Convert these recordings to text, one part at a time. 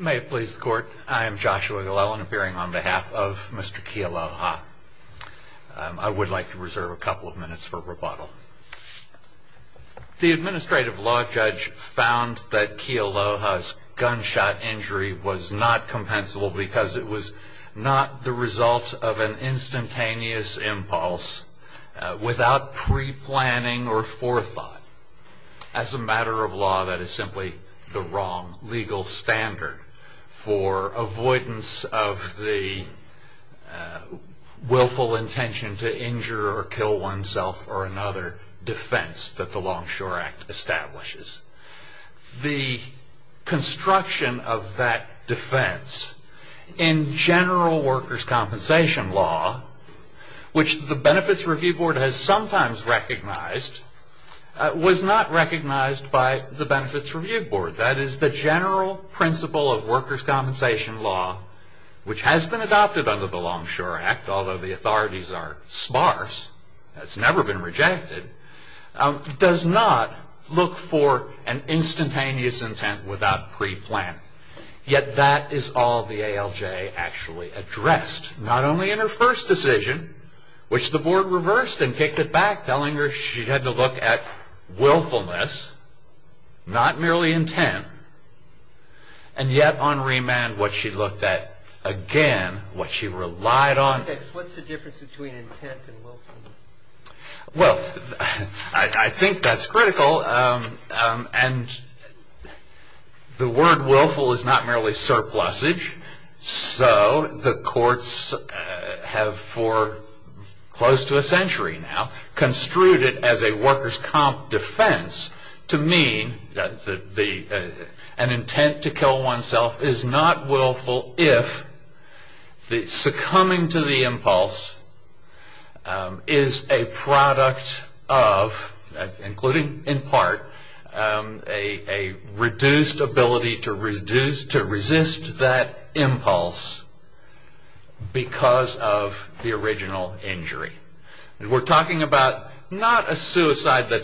May it please the court, I am Joshua Glellen appearing on behalf of Mr. Kealoha. I would like to reserve a couple of minutes for rebuttal. The administrative law judge found that Kealoha's gunshot injury was not compensable because it was not the result of an instantaneous impulse without pre-planning or forethought. As a matter of law, that is simply the wrong legal standard for avoidance of the willful intention to injure or kill oneself or another defense that the Longshore Act establishes. The construction of that defense in general workers' compensation law, which the Benefits Review Board has sometimes recognized, was not recognized by the Benefits Review Board. That is, the general principle of workers' compensation law, which has been adopted under the Longshore Act, although the authorities are sparse, it's never been rejected, does not look for an instantaneous intent without pre-planning. Yet that is all the ALJ actually addressed. Not only in her first decision, which the board reversed and kicked it back, telling her she had to look at willfulness, not merely intent, and yet on remand what she looked at again, what she relied on. What's the difference between intent and willfulness? Well, I think that's critical, and the word willful is not merely surplusage, so the courts have for close to a century now construed it as a workers' comp defense to mean that an intent to kill oneself is not willful if the succumbing to the impulse is a product of, including in part, a reduced ability to resist that impulse because of the original injury. We're talking about not a suicide attempt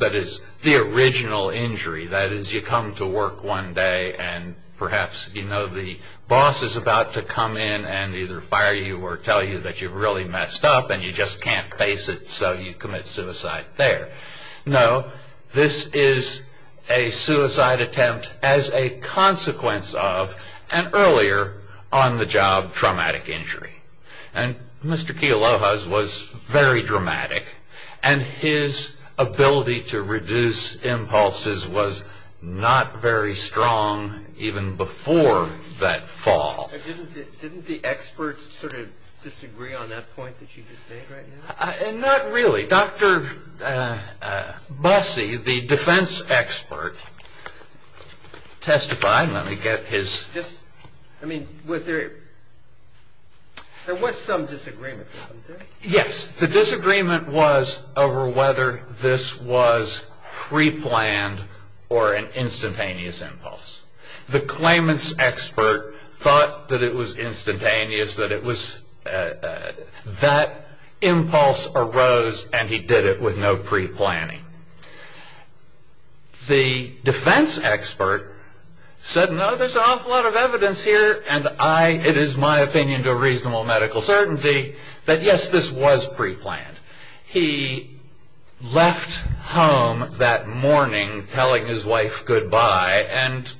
that is the original injury. That is, you come to work one day and perhaps you know the boss is about to come in and either fire you or tell you that you've really messed up and you just can't face it so you commit suicide there. No, this is a suicide attempt as a consequence of an earlier on-the-job traumatic injury. And Mr. Kealoha's was very dramatic, and his ability to reduce impulses was not very strong even before that fall. Didn't the experts sort of disagree on that point that you just made right now? Not really. Dr. Bussey, the defense expert, testified. Let me get his... I mean, was there... there was some disagreement, wasn't there? Yes. The disagreement was over whether this was preplanned or an instantaneous impulse. The claimant's expert thought that it was instantaneous, that it was... that impulse arose and he did it with no preplanning. The defense expert said, no, there's an awful lot of evidence here and I... it is my opinion to a reasonable medical certainty that yes, this was preplanned. He left home that morning telling his wife goodbye, and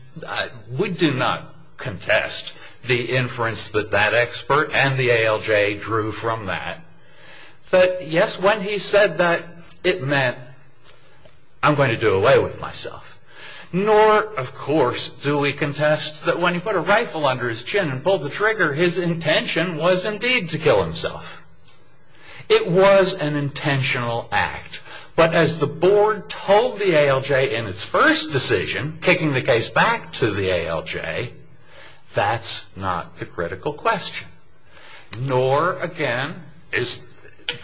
we do not contest the inference that that expert and the ALJ drew from that. But yes, when he said that, it meant, I'm going to do away with myself. Nor, of course, do we contest that when he put a rifle under his chin and pulled the trigger, his intention was indeed to kill himself. It was an intentional act. But as the board told the ALJ in its first decision, kicking the case back to the ALJ, that's not the critical question. Nor, again, is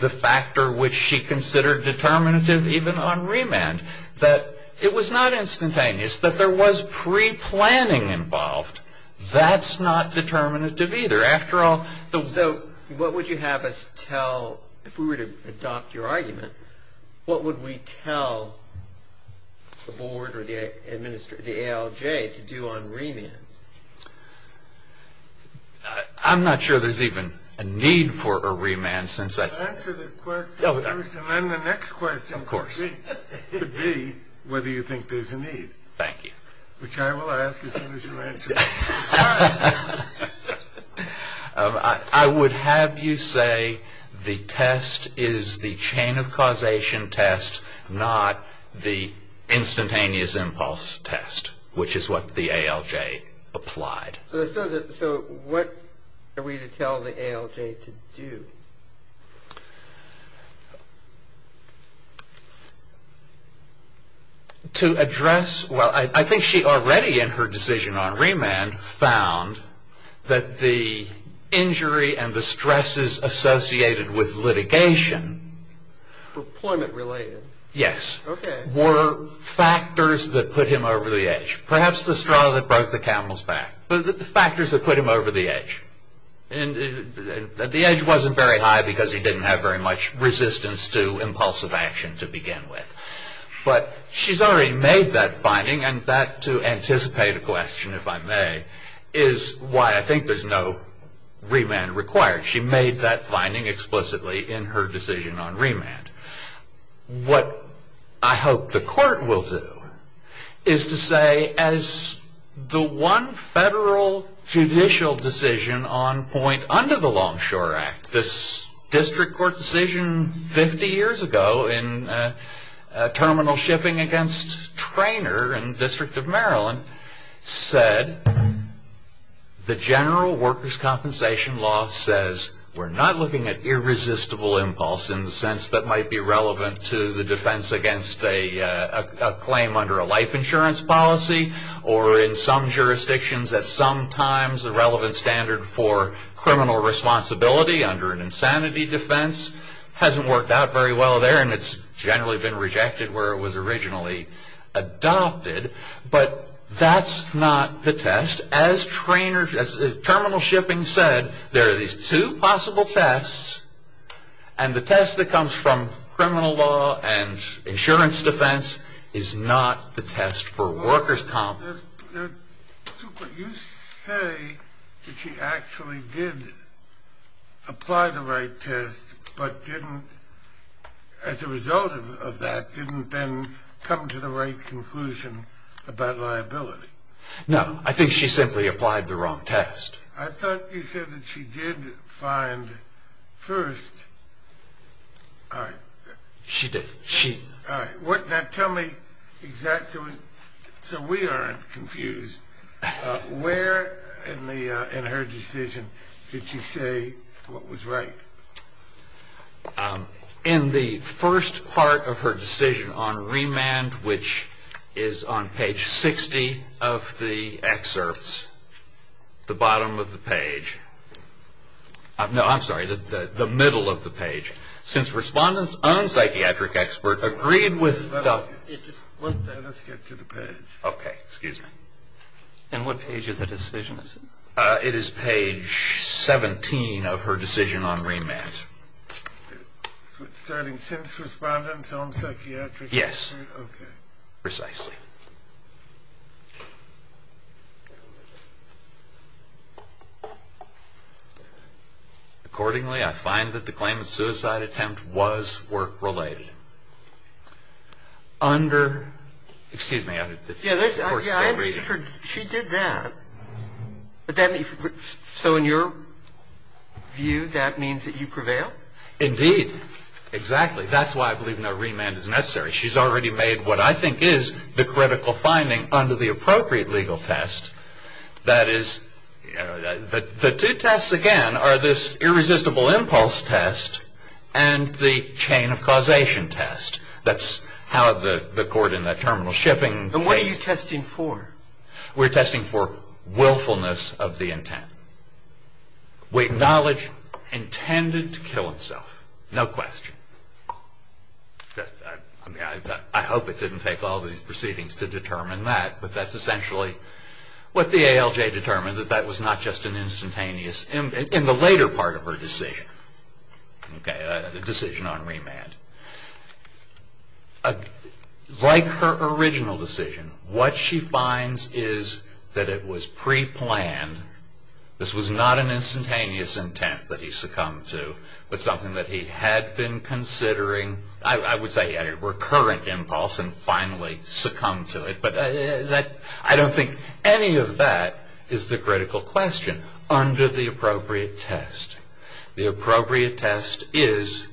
the factor which she considered determinative even on remand, that it was not instantaneous, that there was preplanning involved. That's not determinative either. So what would you have us tell, if we were to adopt your argument, what would we tell the board or the ALJ to do on remand? I'm not sure there's even a need for a remand since I... Answer the question first and then the next question could be whether you think there's a need. Thank you. Which I will ask as soon as you answer this question. I would have you say the test is the chain of causation test, not the instantaneous impulse test, which is what the ALJ applied. So what are we to tell the ALJ to do? To address... Well, I think she already in her decision on remand found that the injury and the stresses associated with litigation... Employment related. Yes. Okay. Were factors that put him over the edge. Perhaps the straw that broke the camel's back. But the factors that put him over the edge. The edge wasn't very high because he didn't have very much resistance to impulsive action to begin with. But she's already made that finding and that, to anticipate a question, if I may, is why I think there's no remand required. She made that finding explicitly in her decision on remand. What I hope the court will do is to say, as the one federal judicial decision on point under the Longshore Act, this district court decision 50 years ago in terminal shipping against Traynor in the District of Maryland said, the general workers' compensation law says we're not looking at irresistible impulse in the sense that might be relevant to the defense against a claim under a life insurance policy or in some jurisdictions that sometimes the relevant standard for criminal responsibility under an insanity defense hasn't worked out very well there and it's generally been rejected where it was originally adopted. But that's not the test. As terminal shipping said, there are these two possible tests and the test that comes from criminal law and insurance defense is not the test for workers' compensation. But you say that she actually did apply the right test but didn't, as a result of that, didn't then come to the right conclusion about liability. No, I think she simply applied the wrong test. I thought you said that she did find first. She did. Now tell me exactly, so we aren't confused, where in her decision did she say what was right? In the first part of her decision on remand, which is on page 60 of the excerpts, the bottom of the page, no, I'm sorry, the middle of the page, since respondents on Psychiatric Expert agreed with Let us get to the page. Okay, excuse me. And what page of the decision is it? It is page 17 of her decision on remand. Starting since respondents on Psychiatric Expert? Yes. Okay. Let me see if I can find it precisely. Accordingly, I find that the claim of suicide attempt was work-related. Under, excuse me. She did that. So in your view, that means that you prevail? Indeed, exactly. That's why I believe no remand is necessary. She's already made what I think is the critical finding under the appropriate legal test. That is, the two tests again are this irresistible impulse test and the chain of causation test. That's how the court in that terminal shipping. And what are you testing for? We're testing for willfulness of the intent. We acknowledge intended to kill himself. No question. I mean, I hope it didn't take all these proceedings to determine that, but that's essentially what the ALJ determined, that that was not just an instantaneous in the later part of her decision. Okay, the decision on remand. Like her original decision, what she finds is that it was preplanned. This was not an instantaneous intent that he succumbed to, but something that he had been considering. I would say he had a recurrent impulse and finally succumbed to it, but I don't think any of that is the critical question under the appropriate test. The appropriate test is,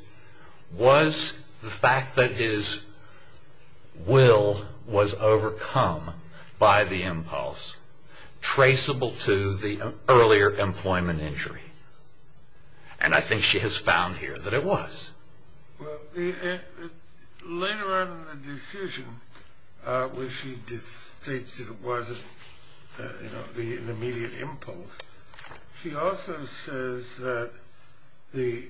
was the fact that his will was overcome by the impulse, traceable to the earlier employment injury? And I think she has found here that it was. Well, later on in the decision where she states that it wasn't the immediate impulse, she also says that the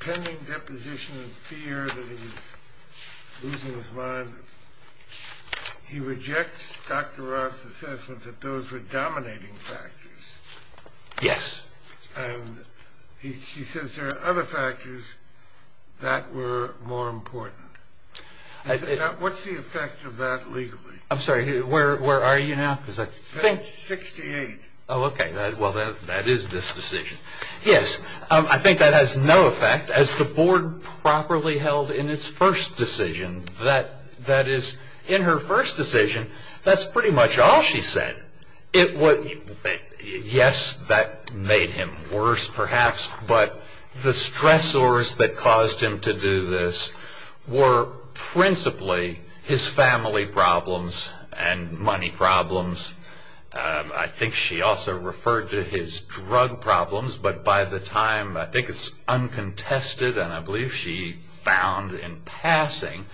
pending deposition of fear that he's losing his mind, he rejects Dr. Ross' assessment that those were dominating factors. Yes. And he says there are other factors that were more important. What's the effect of that legally? I'm sorry, where are you now? Page 68. Oh, okay. Well, that is this decision. Yes, I think that has no effect. As the board properly held in its first decision, that is, in her first decision, that's pretty much all she said. Yes, that made him worse, perhaps, but the stressors that caused him to do this were principally his family problems and money problems. I think she also referred to his drug problems, but by the time, I think it's uncontested, and I believe she found in passing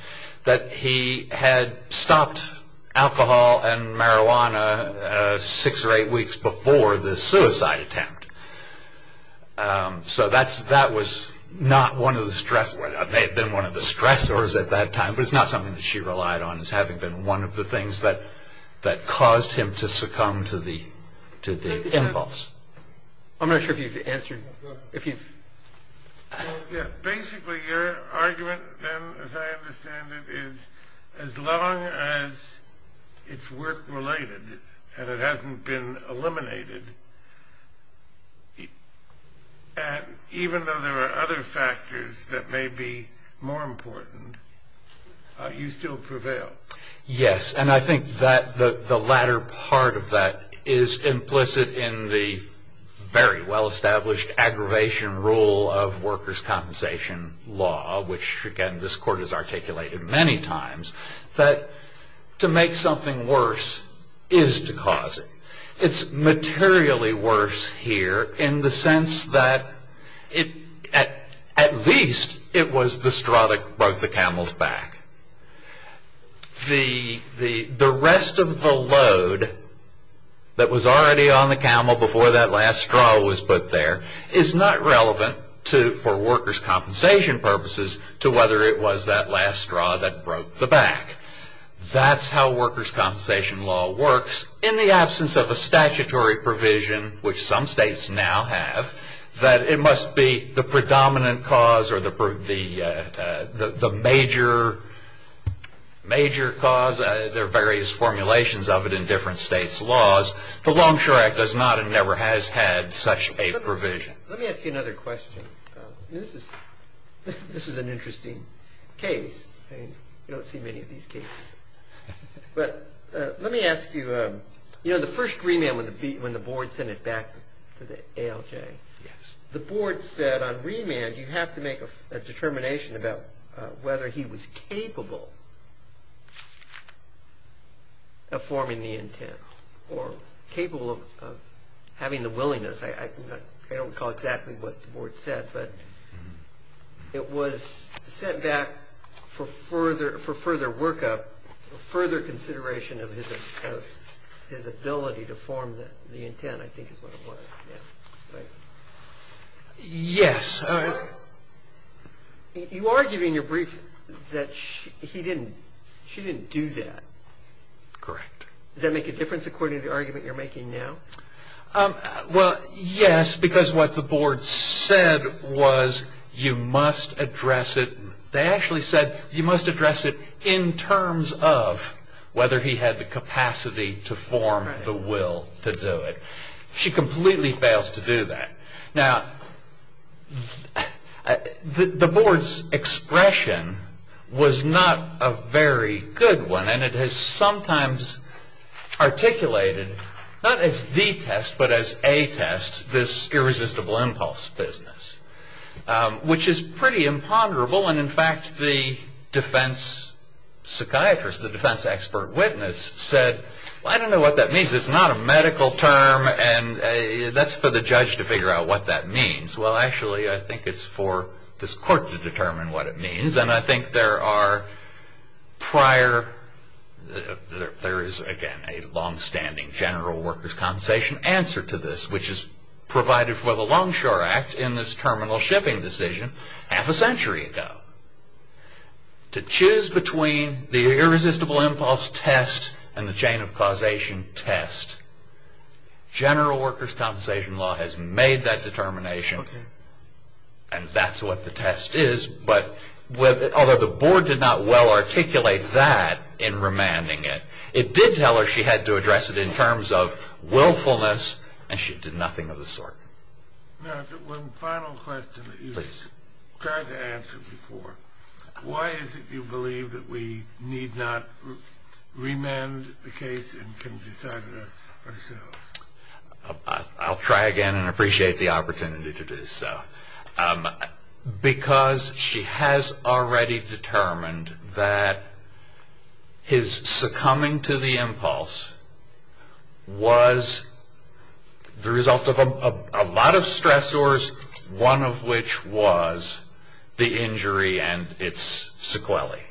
that he had stopped alcohol and marijuana six or eight weeks before the suicide attempt. So that was not one of the stressors at that time, but it's not something that she relied on as having been one of the things that caused him to succumb to the impulse. I'm not sure if you've answered. Basically, your argument then, as I understand it, is as long as it's work-related and it hasn't been eliminated, even though there are other factors that may be more important, you still prevail. Yes, and I think that the latter part of that is implicit in the very well-established aggravation rule of workers' compensation law, which, again, this court has articulated many times, that to make something worse is to cause it. It's materially worse here in the sense that at least it was the straw that broke the camel's back. The rest of the load that was already on the camel before that last straw was put there is not relevant for workers' compensation purposes to whether it was that last straw that broke the back. That's how workers' compensation law works in the absence of a statutory provision, which some states now have, that it must be the predominant cause or the major cause. There are various formulations of it in different states' laws. The Longshore Act does not and never has had such a provision. Let me ask you another question. This is an interesting case. You don't see many of these cases. Let me ask you, the first remand when the board sent it back to the ALJ, the board said on remand you have to make a determination about whether he was capable of forming the intent or capable of having the willingness. I don't recall exactly what the board said, but it was sent back for further workup, further consideration of his ability to form the intent I think is what it was. Yes. You argue in your brief that he didn't, she didn't do that. Correct. Does that make a difference according to the argument you're making now? Well, yes, because what the board said was you must address it, they actually said you must address it in terms of whether he had the capacity to form the will to do it. She completely fails to do that. Now, the board's expression was not a very good one, and it has sometimes articulated not as the test but as a test this irresistible impulse business, which is pretty imponderable, and in fact the defense psychiatrist, the defense expert witness said, well, I don't know what that means. It's not a medical term, and that's for the judge to figure out what that means. Well, actually I think it's for this court to determine what it means, and I think there are prior, there is again a longstanding general workers' compensation answer to this, which is provided for the Longshore Act in this terminal shipping decision half a century ago. To choose between the irresistible impulse test and the chain of causation test, general workers' compensation law has made that determination, and that's what the test is, but although the board did not well articulate that in remanding it, it did tell her she had to address it in terms of willfulness, and she did nothing of the sort. Now, one final question that you tried to answer before. Why is it you believe that we need not remand the case and can decide it ourselves? I'll try again and appreciate the opportunity to do so. Because she has already determined that his succumbing to the impulse was the result of a lot of stressors, one of which was the injury and its sequelae.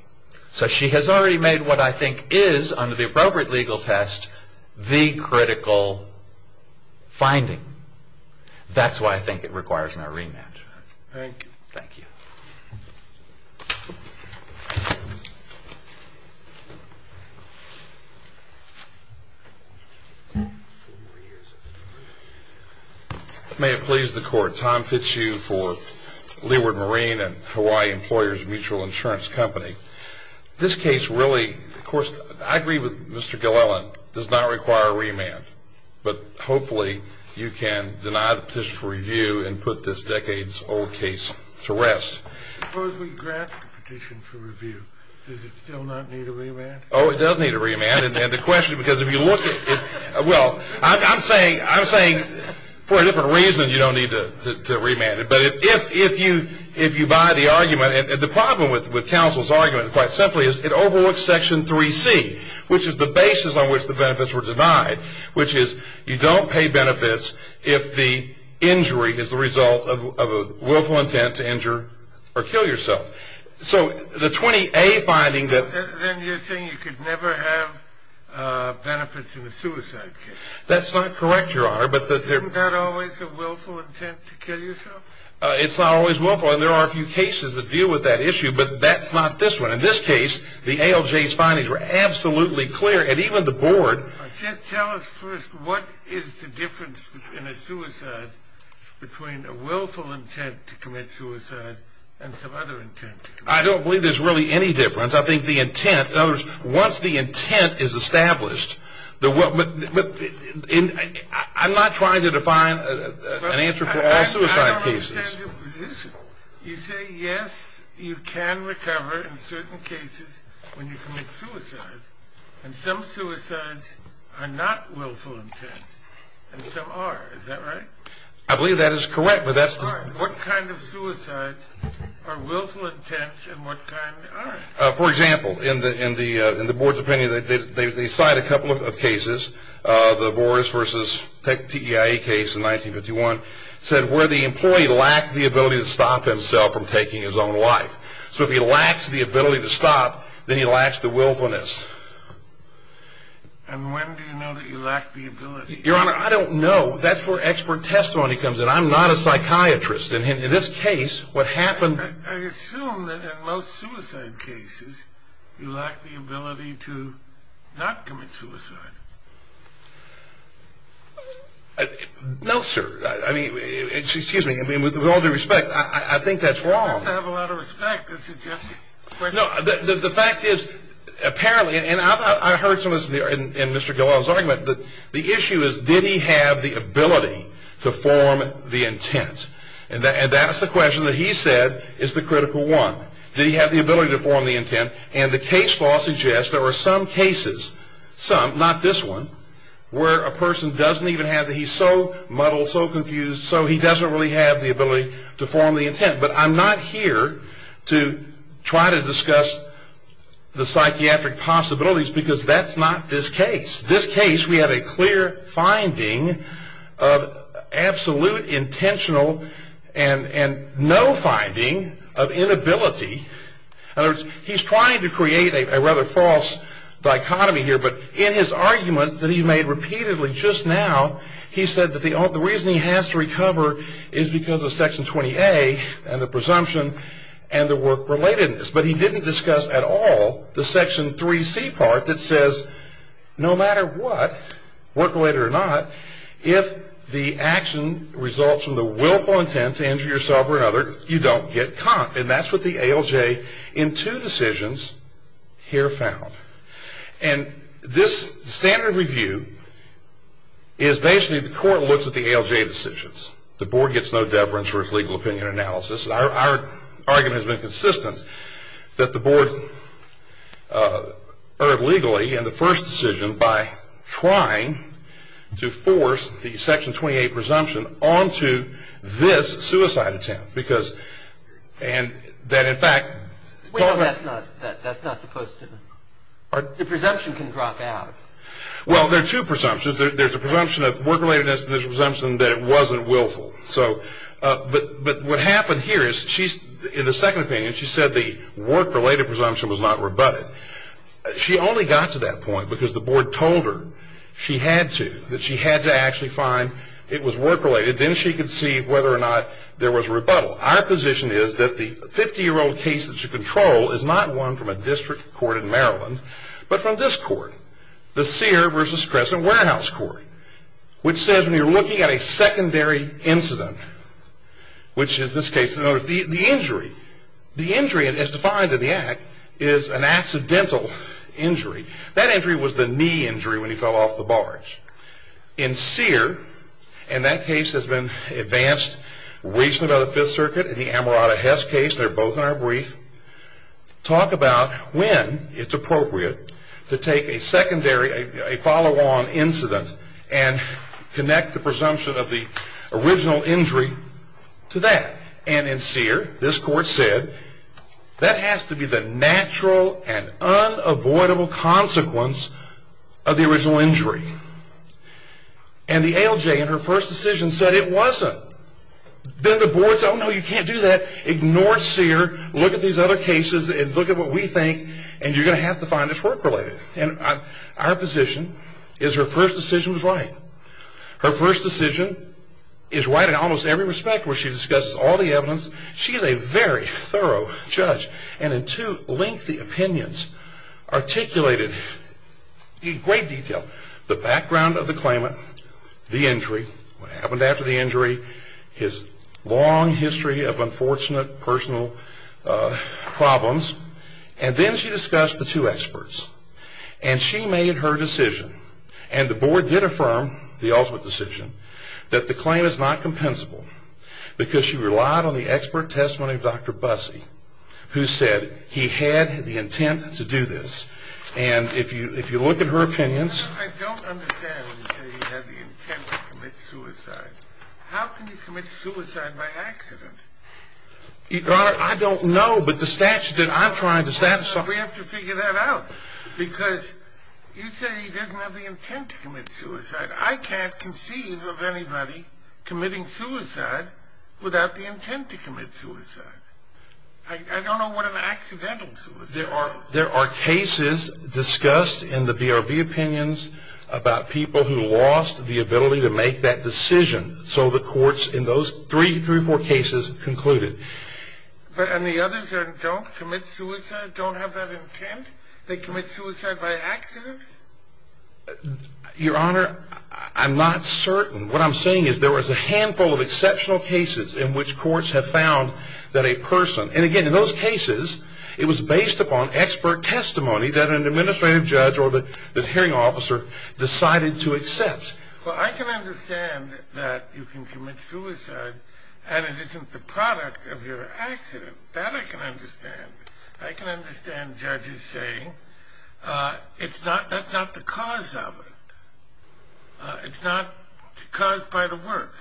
So she has already made what I think is, under the appropriate legal test, the critical finding. That's why I think it requires no remand. Thank you. Thank you. May it please the Court, Tom Fitzhugh for Leeward Marine and Hawaii Employers Mutual Insurance Company. This case really, of course, I agree with Mr. Gillelan, does not require a remand, but hopefully you can deny the petition for review and put this decades-old case to rest. Suppose we grant the petition for review. Does it still not need a remand? Oh, it does need a remand. And the question, because if you look at it, well, I'm saying for a different reason you don't need to remand it. But if you buy the argument, and the problem with counsel's argument, quite simply, is it overworks Section 3C, which is the basis on which the benefits were denied, which is you don't pay benefits if the injury is the result of a willful intent to injure or kill yourself. So the 20A finding that – Then you're saying you could never have benefits in a suicide case. That's not correct, Your Honor, but – Isn't that always a willful intent to kill yourself? It's not always willful, and there are a few cases that deal with that issue, but that's not this one. In this case, the ALJ's findings were absolutely clear, and even the board – Just tell us first, what is the difference in a suicide between a willful intent to commit suicide and some other intent? I don't believe there's really any difference. I think the intent – in other words, once the intent is established, the – I'm not trying to define an answer for all suicide cases. I don't understand your position. You say, yes, you can recover in certain cases when you commit suicide, and some suicides are not willful intents, and some are. Is that right? I believe that is correct, but that's the – What kind of suicides are willful intents, and what kind aren't? For example, in the board's opinion, they cite a couple of cases. The Boris v. TEIE case in 1951 said where the employee lacked the ability to stop himself from taking his own life. So if he lacks the ability to stop, then he lacks the willfulness. And when do you know that you lack the ability? Your Honor, I don't know. That's where expert testimony comes in. I'm not a psychiatrist. In this case, what happened – I assume that in most suicide cases, you lack the ability to not commit suicide. No, sir. I mean, excuse me. I mean, with all due respect, I think that's wrong. I have a lot of respect. This is just a question. No, the fact is, apparently – and I heard some of this in Mr. Gilwell's argument – but the issue is, did he have the ability to form the intent? And that's the question that he said is the critical one. Did he have the ability to form the intent? And the case law suggests there are some cases – some, not this one – where a person doesn't even have the – he's so muddled, so confused, so he doesn't really have the ability to form the intent. But I'm not here to try to discuss the psychiatric possibilities because that's not this case. In this case, we have a clear finding of absolute intentional and no finding of inability. In other words, he's trying to create a rather false dichotomy here, but in his argument that he made repeatedly just now, he said that the reason he has to recover is because of Section 20A and the presumption and the work-relatedness. But he didn't discuss at all the Section 3C part that says no matter what, work-related or not, if the action results from the willful intent to injure yourself or another, you don't get conked. And that's what the ALJ in two decisions here found. And this standard review is basically the court looks at the ALJ decisions. The board gets no deference for its legal opinion analysis. Our argument has been consistent that the board erred legally in the first decision by trying to force the Section 20A presumption onto this suicide attempt because that, in fact, Wait a minute, that's not supposed to, the presumption can drop out. Well, there are two presumptions. There's a presumption of work-relatedness and there's a presumption that it wasn't willful. But what happened here is in the second opinion, she said the work-related presumption was not rebutted. She only got to that point because the board told her she had to, that she had to actually find it was work-related. Then she could see whether or not there was a rebuttal. Our position is that the 50-year-old case that you control is not one from a district court in Maryland, but from this court, the Sear v. Crescent Warehouse Court, which says when you're looking at a secondary incident, which is this case, the injury, the injury as defined in the Act is an accidental injury. That injury was the knee injury when he fell off the barge. In Sear, and that case has been advanced recently by the Fifth Circuit, in the Amarato-Hess case, they're both in our brief, talk about when it's appropriate to take a secondary, a follow-on incident and connect the presumption of the original injury to that. And in Sear, this court said that has to be the natural and unavoidable consequence of the original injury. And the ALJ in her first decision said it wasn't. Then the board said, oh no, you can't do that. Ignore Sear, look at these other cases and look at what we think, and you're going to have to find this work-related. And our position is her first decision was right. Her first decision is right in almost every respect where she discusses all the evidence. She is a very thorough judge and in two lengthy opinions articulated in great detail the background of the claimant, the injury, what happened after the injury, his long history of unfortunate personal problems. And then she discussed the two experts. And she made her decision, and the board did affirm the ultimate decision, that the claim is not compensable because she relied on the expert testimony of Dr. Busse, who said he had the intent to do this. And if you look at her opinions. I don't understand when you say he had the intent to commit suicide. How can you commit suicide by accident? Your Honor, I don't know, but the statute that I'm trying to satisfy. We have to figure that out because you say he doesn't have the intent to commit suicide. I can't conceive of anybody committing suicide without the intent to commit suicide. I don't know what an accidental suicide is. There are cases discussed in the BRB opinions about people who lost the ability to make that decision. So the courts in those three or four cases concluded. And the others that don't commit suicide don't have that intent? They commit suicide by accident? Your Honor, I'm not certain. What I'm saying is there was a handful of exceptional cases in which courts have found that a person, and again, in those cases, it was based upon expert testimony that an administrative judge or the hearing officer decided to accept. Well, I can understand that you can commit suicide and it isn't the product of your accident. That I can understand. I can understand judges saying that's not the cause of it. It's not caused by the work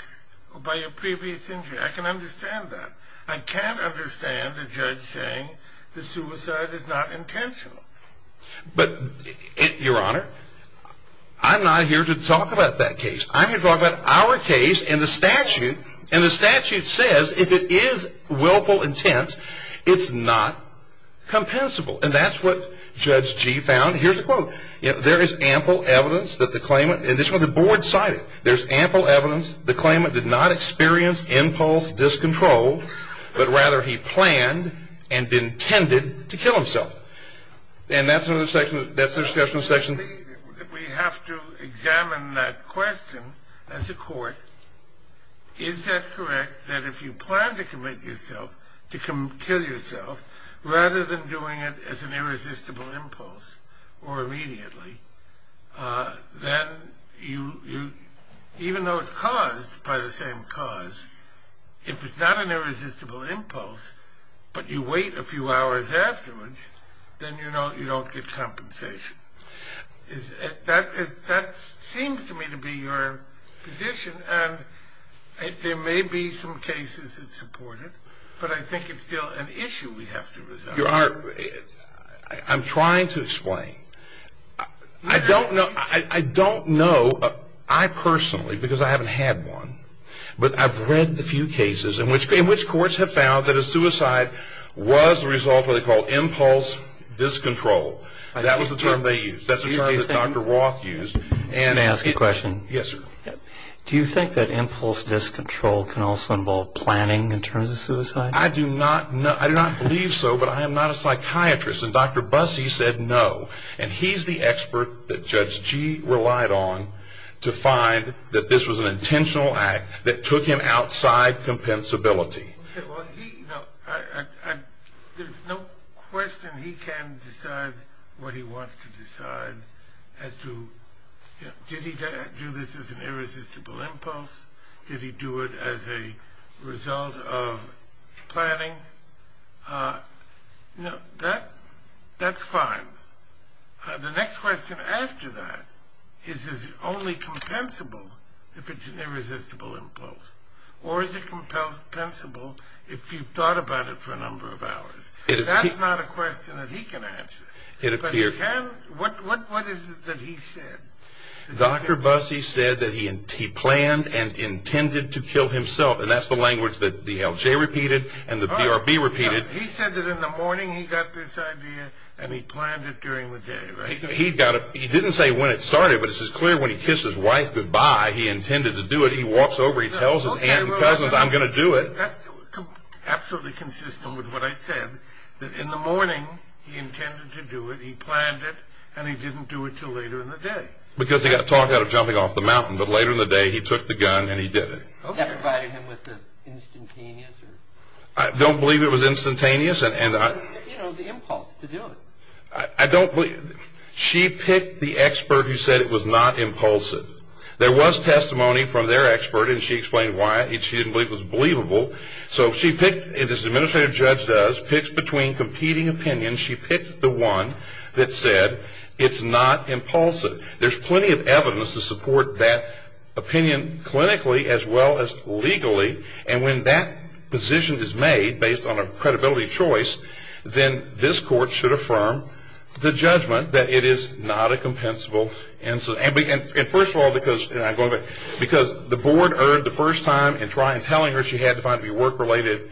or by a previous injury. I can understand that. I can't understand a judge saying that suicide is not intentional. But, Your Honor, I'm not here to talk about that case. I'm here to talk about our case and the statute. And the statute says if it is willful intent, it's not compensable. And that's what Judge Gee found. Here's a quote. You know, there is ample evidence that the claimant, and this is what the board cited, there's ample evidence the claimant did not experience impulse, discontrol, but rather he planned and intended to kill himself. And that's another section, that's the discussion section. We have to examine that question as a court. Is that correct, that if you plan to commit yourself, to kill yourself, rather than doing it as an irresistible impulse or immediately, then even though it's caused by the same cause, if it's not an irresistible impulse, but you wait a few hours afterwards, then you don't get compensation. That seems to me to be your position. There may be some cases that support it, but I think it's still an issue we have to resolve. Your Honor, I'm trying to explain. I don't know, I personally, because I haven't had one, but I've read the few cases in which courts have found that a suicide was the result of what they call impulse discontrol. That was the term they used. That's the term that Dr. Roth used. Can I ask a question? Yes, sir. Do you think that impulse discontrol can also involve planning in terms of suicide? I do not believe so, but I am not a psychiatrist, and Dr. Bussey said no, and he's the expert that Judge Gee relied on to find that this was an intentional act that took him outside compensability. Okay, well, there's no question he can decide what he wants to decide as to, did he do this as an irresistible impulse? Did he do it as a result of planning? No, that's fine. The next question after that is, is it only compensable if it's an irresistible impulse, or is it compensable if you've thought about it for a number of hours? That's not a question that he can answer. What is it that he said? Dr. Bussey said that he planned and intended to kill himself, and that's the language that the LJ repeated and the BRB repeated. He said that in the morning he got this idea, and he planned it during the day, right? He didn't say when it started, but it's clear when he kissed his wife goodbye, he intended to do it. He walks over, he tells his aunt and cousins, I'm going to do it. Absolutely consistent with what I said, that in the morning he intended to do it, he planned it, and he didn't do it until later in the day. Because he got talked out of jumping off the mountain, but later in the day he took the gun and he did it. That provided him with the instantaneous? I don't believe it was instantaneous. You know, the impulse to do it. I don't believe it. She picked the expert who said it was not impulsive. There was testimony from their expert, and she explained why she didn't believe it was believable. So she picked, as an administrative judge does, picks between competing opinions. She picked the one that said it's not impulsive. There's plenty of evidence to support that opinion clinically as well as legally, and when that position is made based on a credibility choice, then this court should affirm the judgment that it is not a compensable incident. And first of all, because the board heard the first time in trying and telling her she had to find it to be work-related,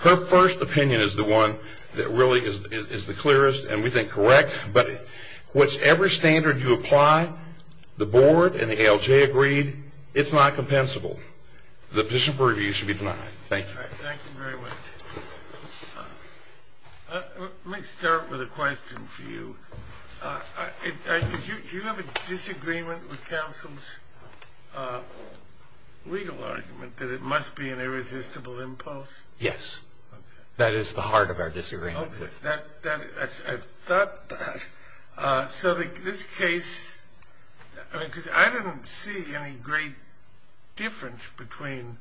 her first opinion is the one that really is the clearest and we think correct. But whichever standard you apply, the board and the ALJ agreed it's not compensable. The position for review should be denied. Thank you. Thank you very much. Let me start with a question for you. Do you have a disagreement with counsel's legal argument that it must be an irresistible impulse? Yes. Okay. That is the heart of our disagreement. Okay. I thought that. So this case, because I didn't see any great difference between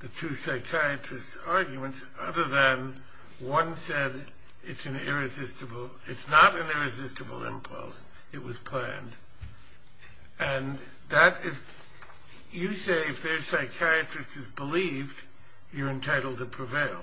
the two psychiatrists' arguments other than one said it's not an irresistible impulse, it was planned. And you say if their psychiatrist has believed, you're entitled to prevail.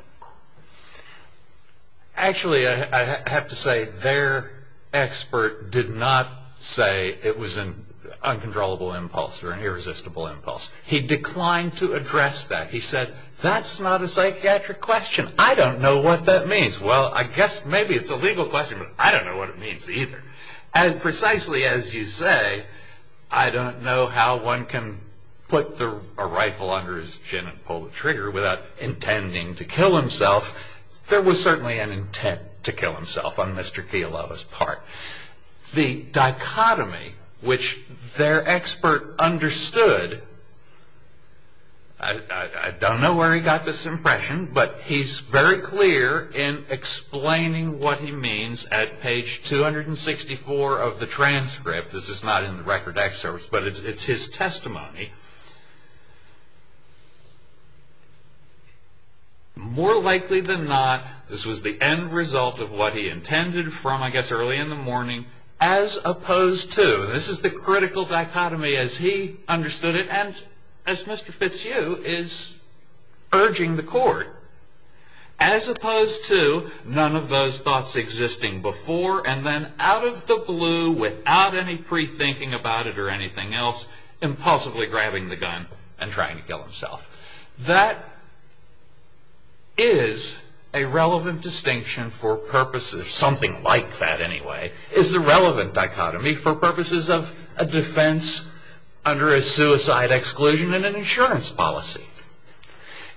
Actually, I have to say their expert did not say it was an uncontrollable impulse or an irresistible impulse. He declined to address that. He said that's not a psychiatric question. I don't know what that means. Well, I guess maybe it's a legal question, but I don't know what it means either. And precisely as you say, I don't know how one can put a rifle under his chin and pull the trigger without intending to kill himself. There was certainly an intent to kill himself on Mr. Kialova's part. The dichotomy which their expert understood, I don't know where he got this impression, but he's very clear in explaining what he means at page 264 of the transcript. This is not in the record excerpt, but it's his testimony. More likely than not, this was the end result of what he intended from, I guess, early in the morning, as opposed to, and this is the critical dichotomy as he understood it, and as Mr. Fitzhugh is urging the court, as opposed to none of those thoughts existing before and then out of the blue without any pre-thinking about it or anything else, impossibly grabbing the gun and trying to kill himself. That is a relevant distinction for purposes, something like that anyway, is the relevant dichotomy for purposes of a defense under a suicide exclusion and an insurance policy.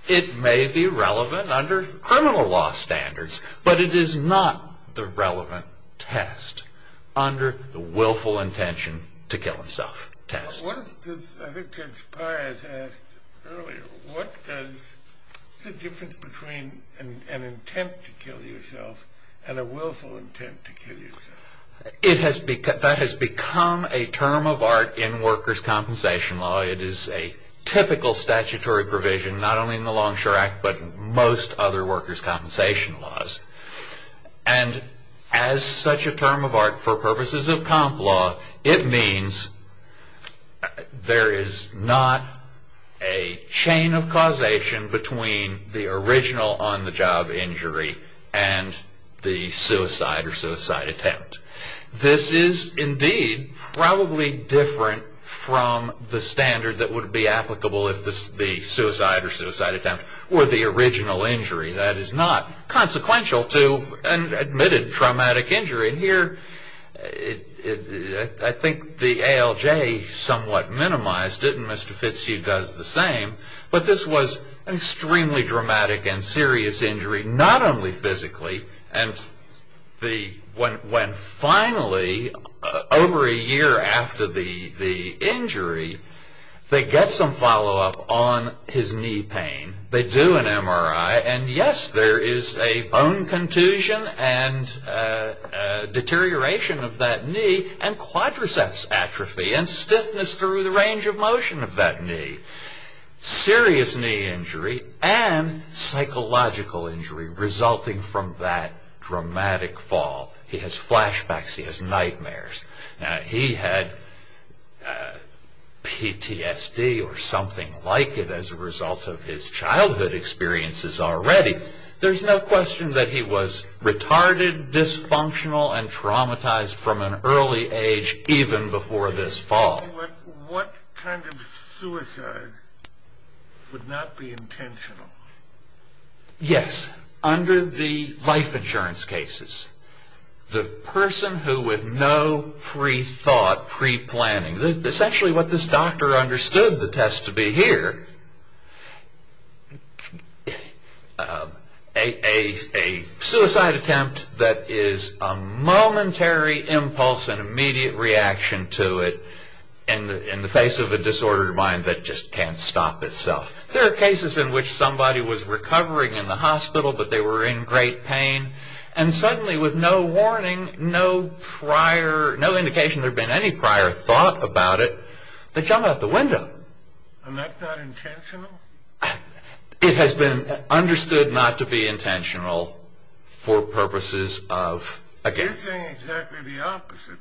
It may be relevant under criminal law standards, but it is not the relevant test under the willful intention to kill himself test. I think Judge Pires asked earlier, what is the difference between an intent to kill yourself and a willful intent to kill yourself? That has become a term of art in workers' compensation law. It is a typical statutory provision, not only in the Longshore Act, but most other workers' compensation laws. And as such a term of art for purposes of comp law, it means there is not a chain of causation between the original on-the-job injury and the suicide or suicide attempt. This is indeed probably different from the standard that would be applicable if the suicide or suicide attempt were the original injury. That is not consequential to an admitted traumatic injury. And here, I think the ALJ somewhat minimized it, and Mr. Fitzhugh does the same, but this was an extremely dramatic and serious injury, not only physically. And when finally, over a year after the injury, they get some follow-up on his knee pain, they do an MRI, and yes, there is a bone contusion and deterioration of that knee, and quadriceps atrophy and stiffness through the range of motion of that knee. Serious knee injury and psychological injury resulting from that dramatic fall. He has flashbacks, he has nightmares. He had PTSD or something like it as a result of his childhood experiences already. There is no question that he was retarded, dysfunctional, and traumatized from an early age even before this fall. What kind of suicide would not be intentional? Yes, under the life insurance cases. The person who with no pre-thought, pre-planning, essentially what this doctor understood the test to be here, a suicide attempt that is a momentary impulse and immediate reaction to it in the face of a disordered mind that just can't stop itself. There are cases in which somebody was recovering in the hospital, but they were in great pain, and suddenly with no warning, no prior, no indication there had been any prior thought about it, they jump out the window. And that's not intentional? It has been understood not to be intentional for purposes of... You're saying exactly the opposite,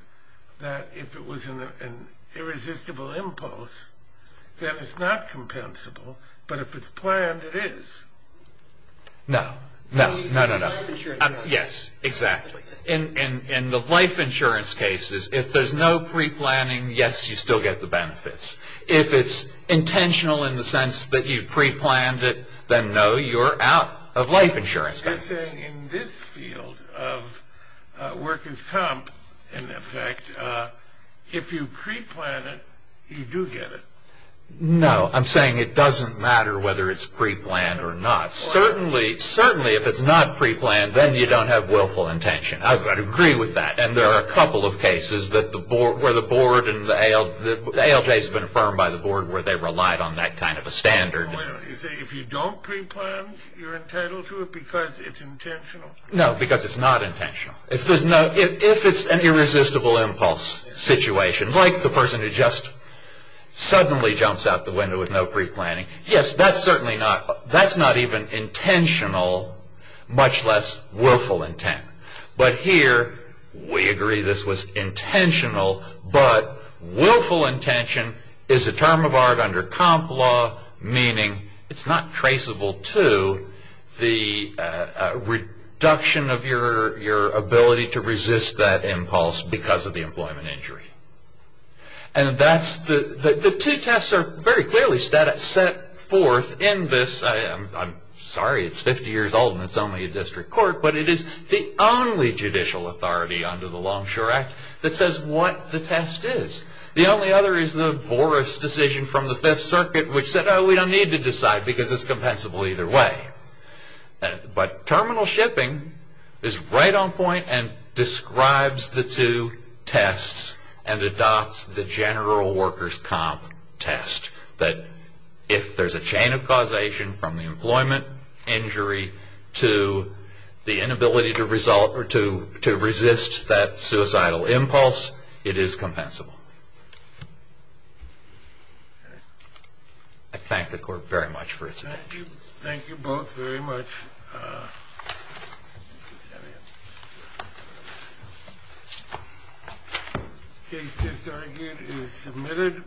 that if it was an irresistible impulse, then it's not compensable, but if it's planned, it is. No, no, no, no, no. Yes, exactly. In the life insurance cases, if there's no pre-planning, yes, you still get the benefits. If it's intentional in the sense that you pre-planned it, then no, you're out of life insurance benefits. You're saying in this field of workers' comp, in effect, if you pre-plan it, you do get it. No, I'm saying it doesn't matter whether it's pre-planned or not. Certainly, if it's not pre-planned, then you don't have willful intention. I agree with that. And there are a couple of cases where the ALJ has been affirmed by the board where they relied on that kind of a standard. You're saying if you don't pre-plan, you're entitled to it because it's intentional? No, because it's not intentional. If it's an irresistible impulse situation, like the person who just suddenly jumps out the window with no pre-planning, yes, that's certainly not even intentional, much less willful intent. But here, we agree this was intentional, but willful intention is a term of art under comp law, meaning it's not traceable to the reduction of your ability to resist that impulse because of the employment injury. And the two tests are very clearly set forth in this. I'm sorry it's 50 years old and it's only a district court, but it is the only judicial authority under the Longshore Act that says what the test is. The only other is the Voris decision from the Fifth Circuit, which said, oh, we don't need to decide because it's compensable either way. But terminal shipping is right on point and describes the two tests and adopts the general workers' comp test that if there's a chain of causation from the employment injury to the inability to resist that suicidal impulse, it is compensable. I thank the Court very much for its attention. Thank you. Thank you both very much. Case disargued is submitted.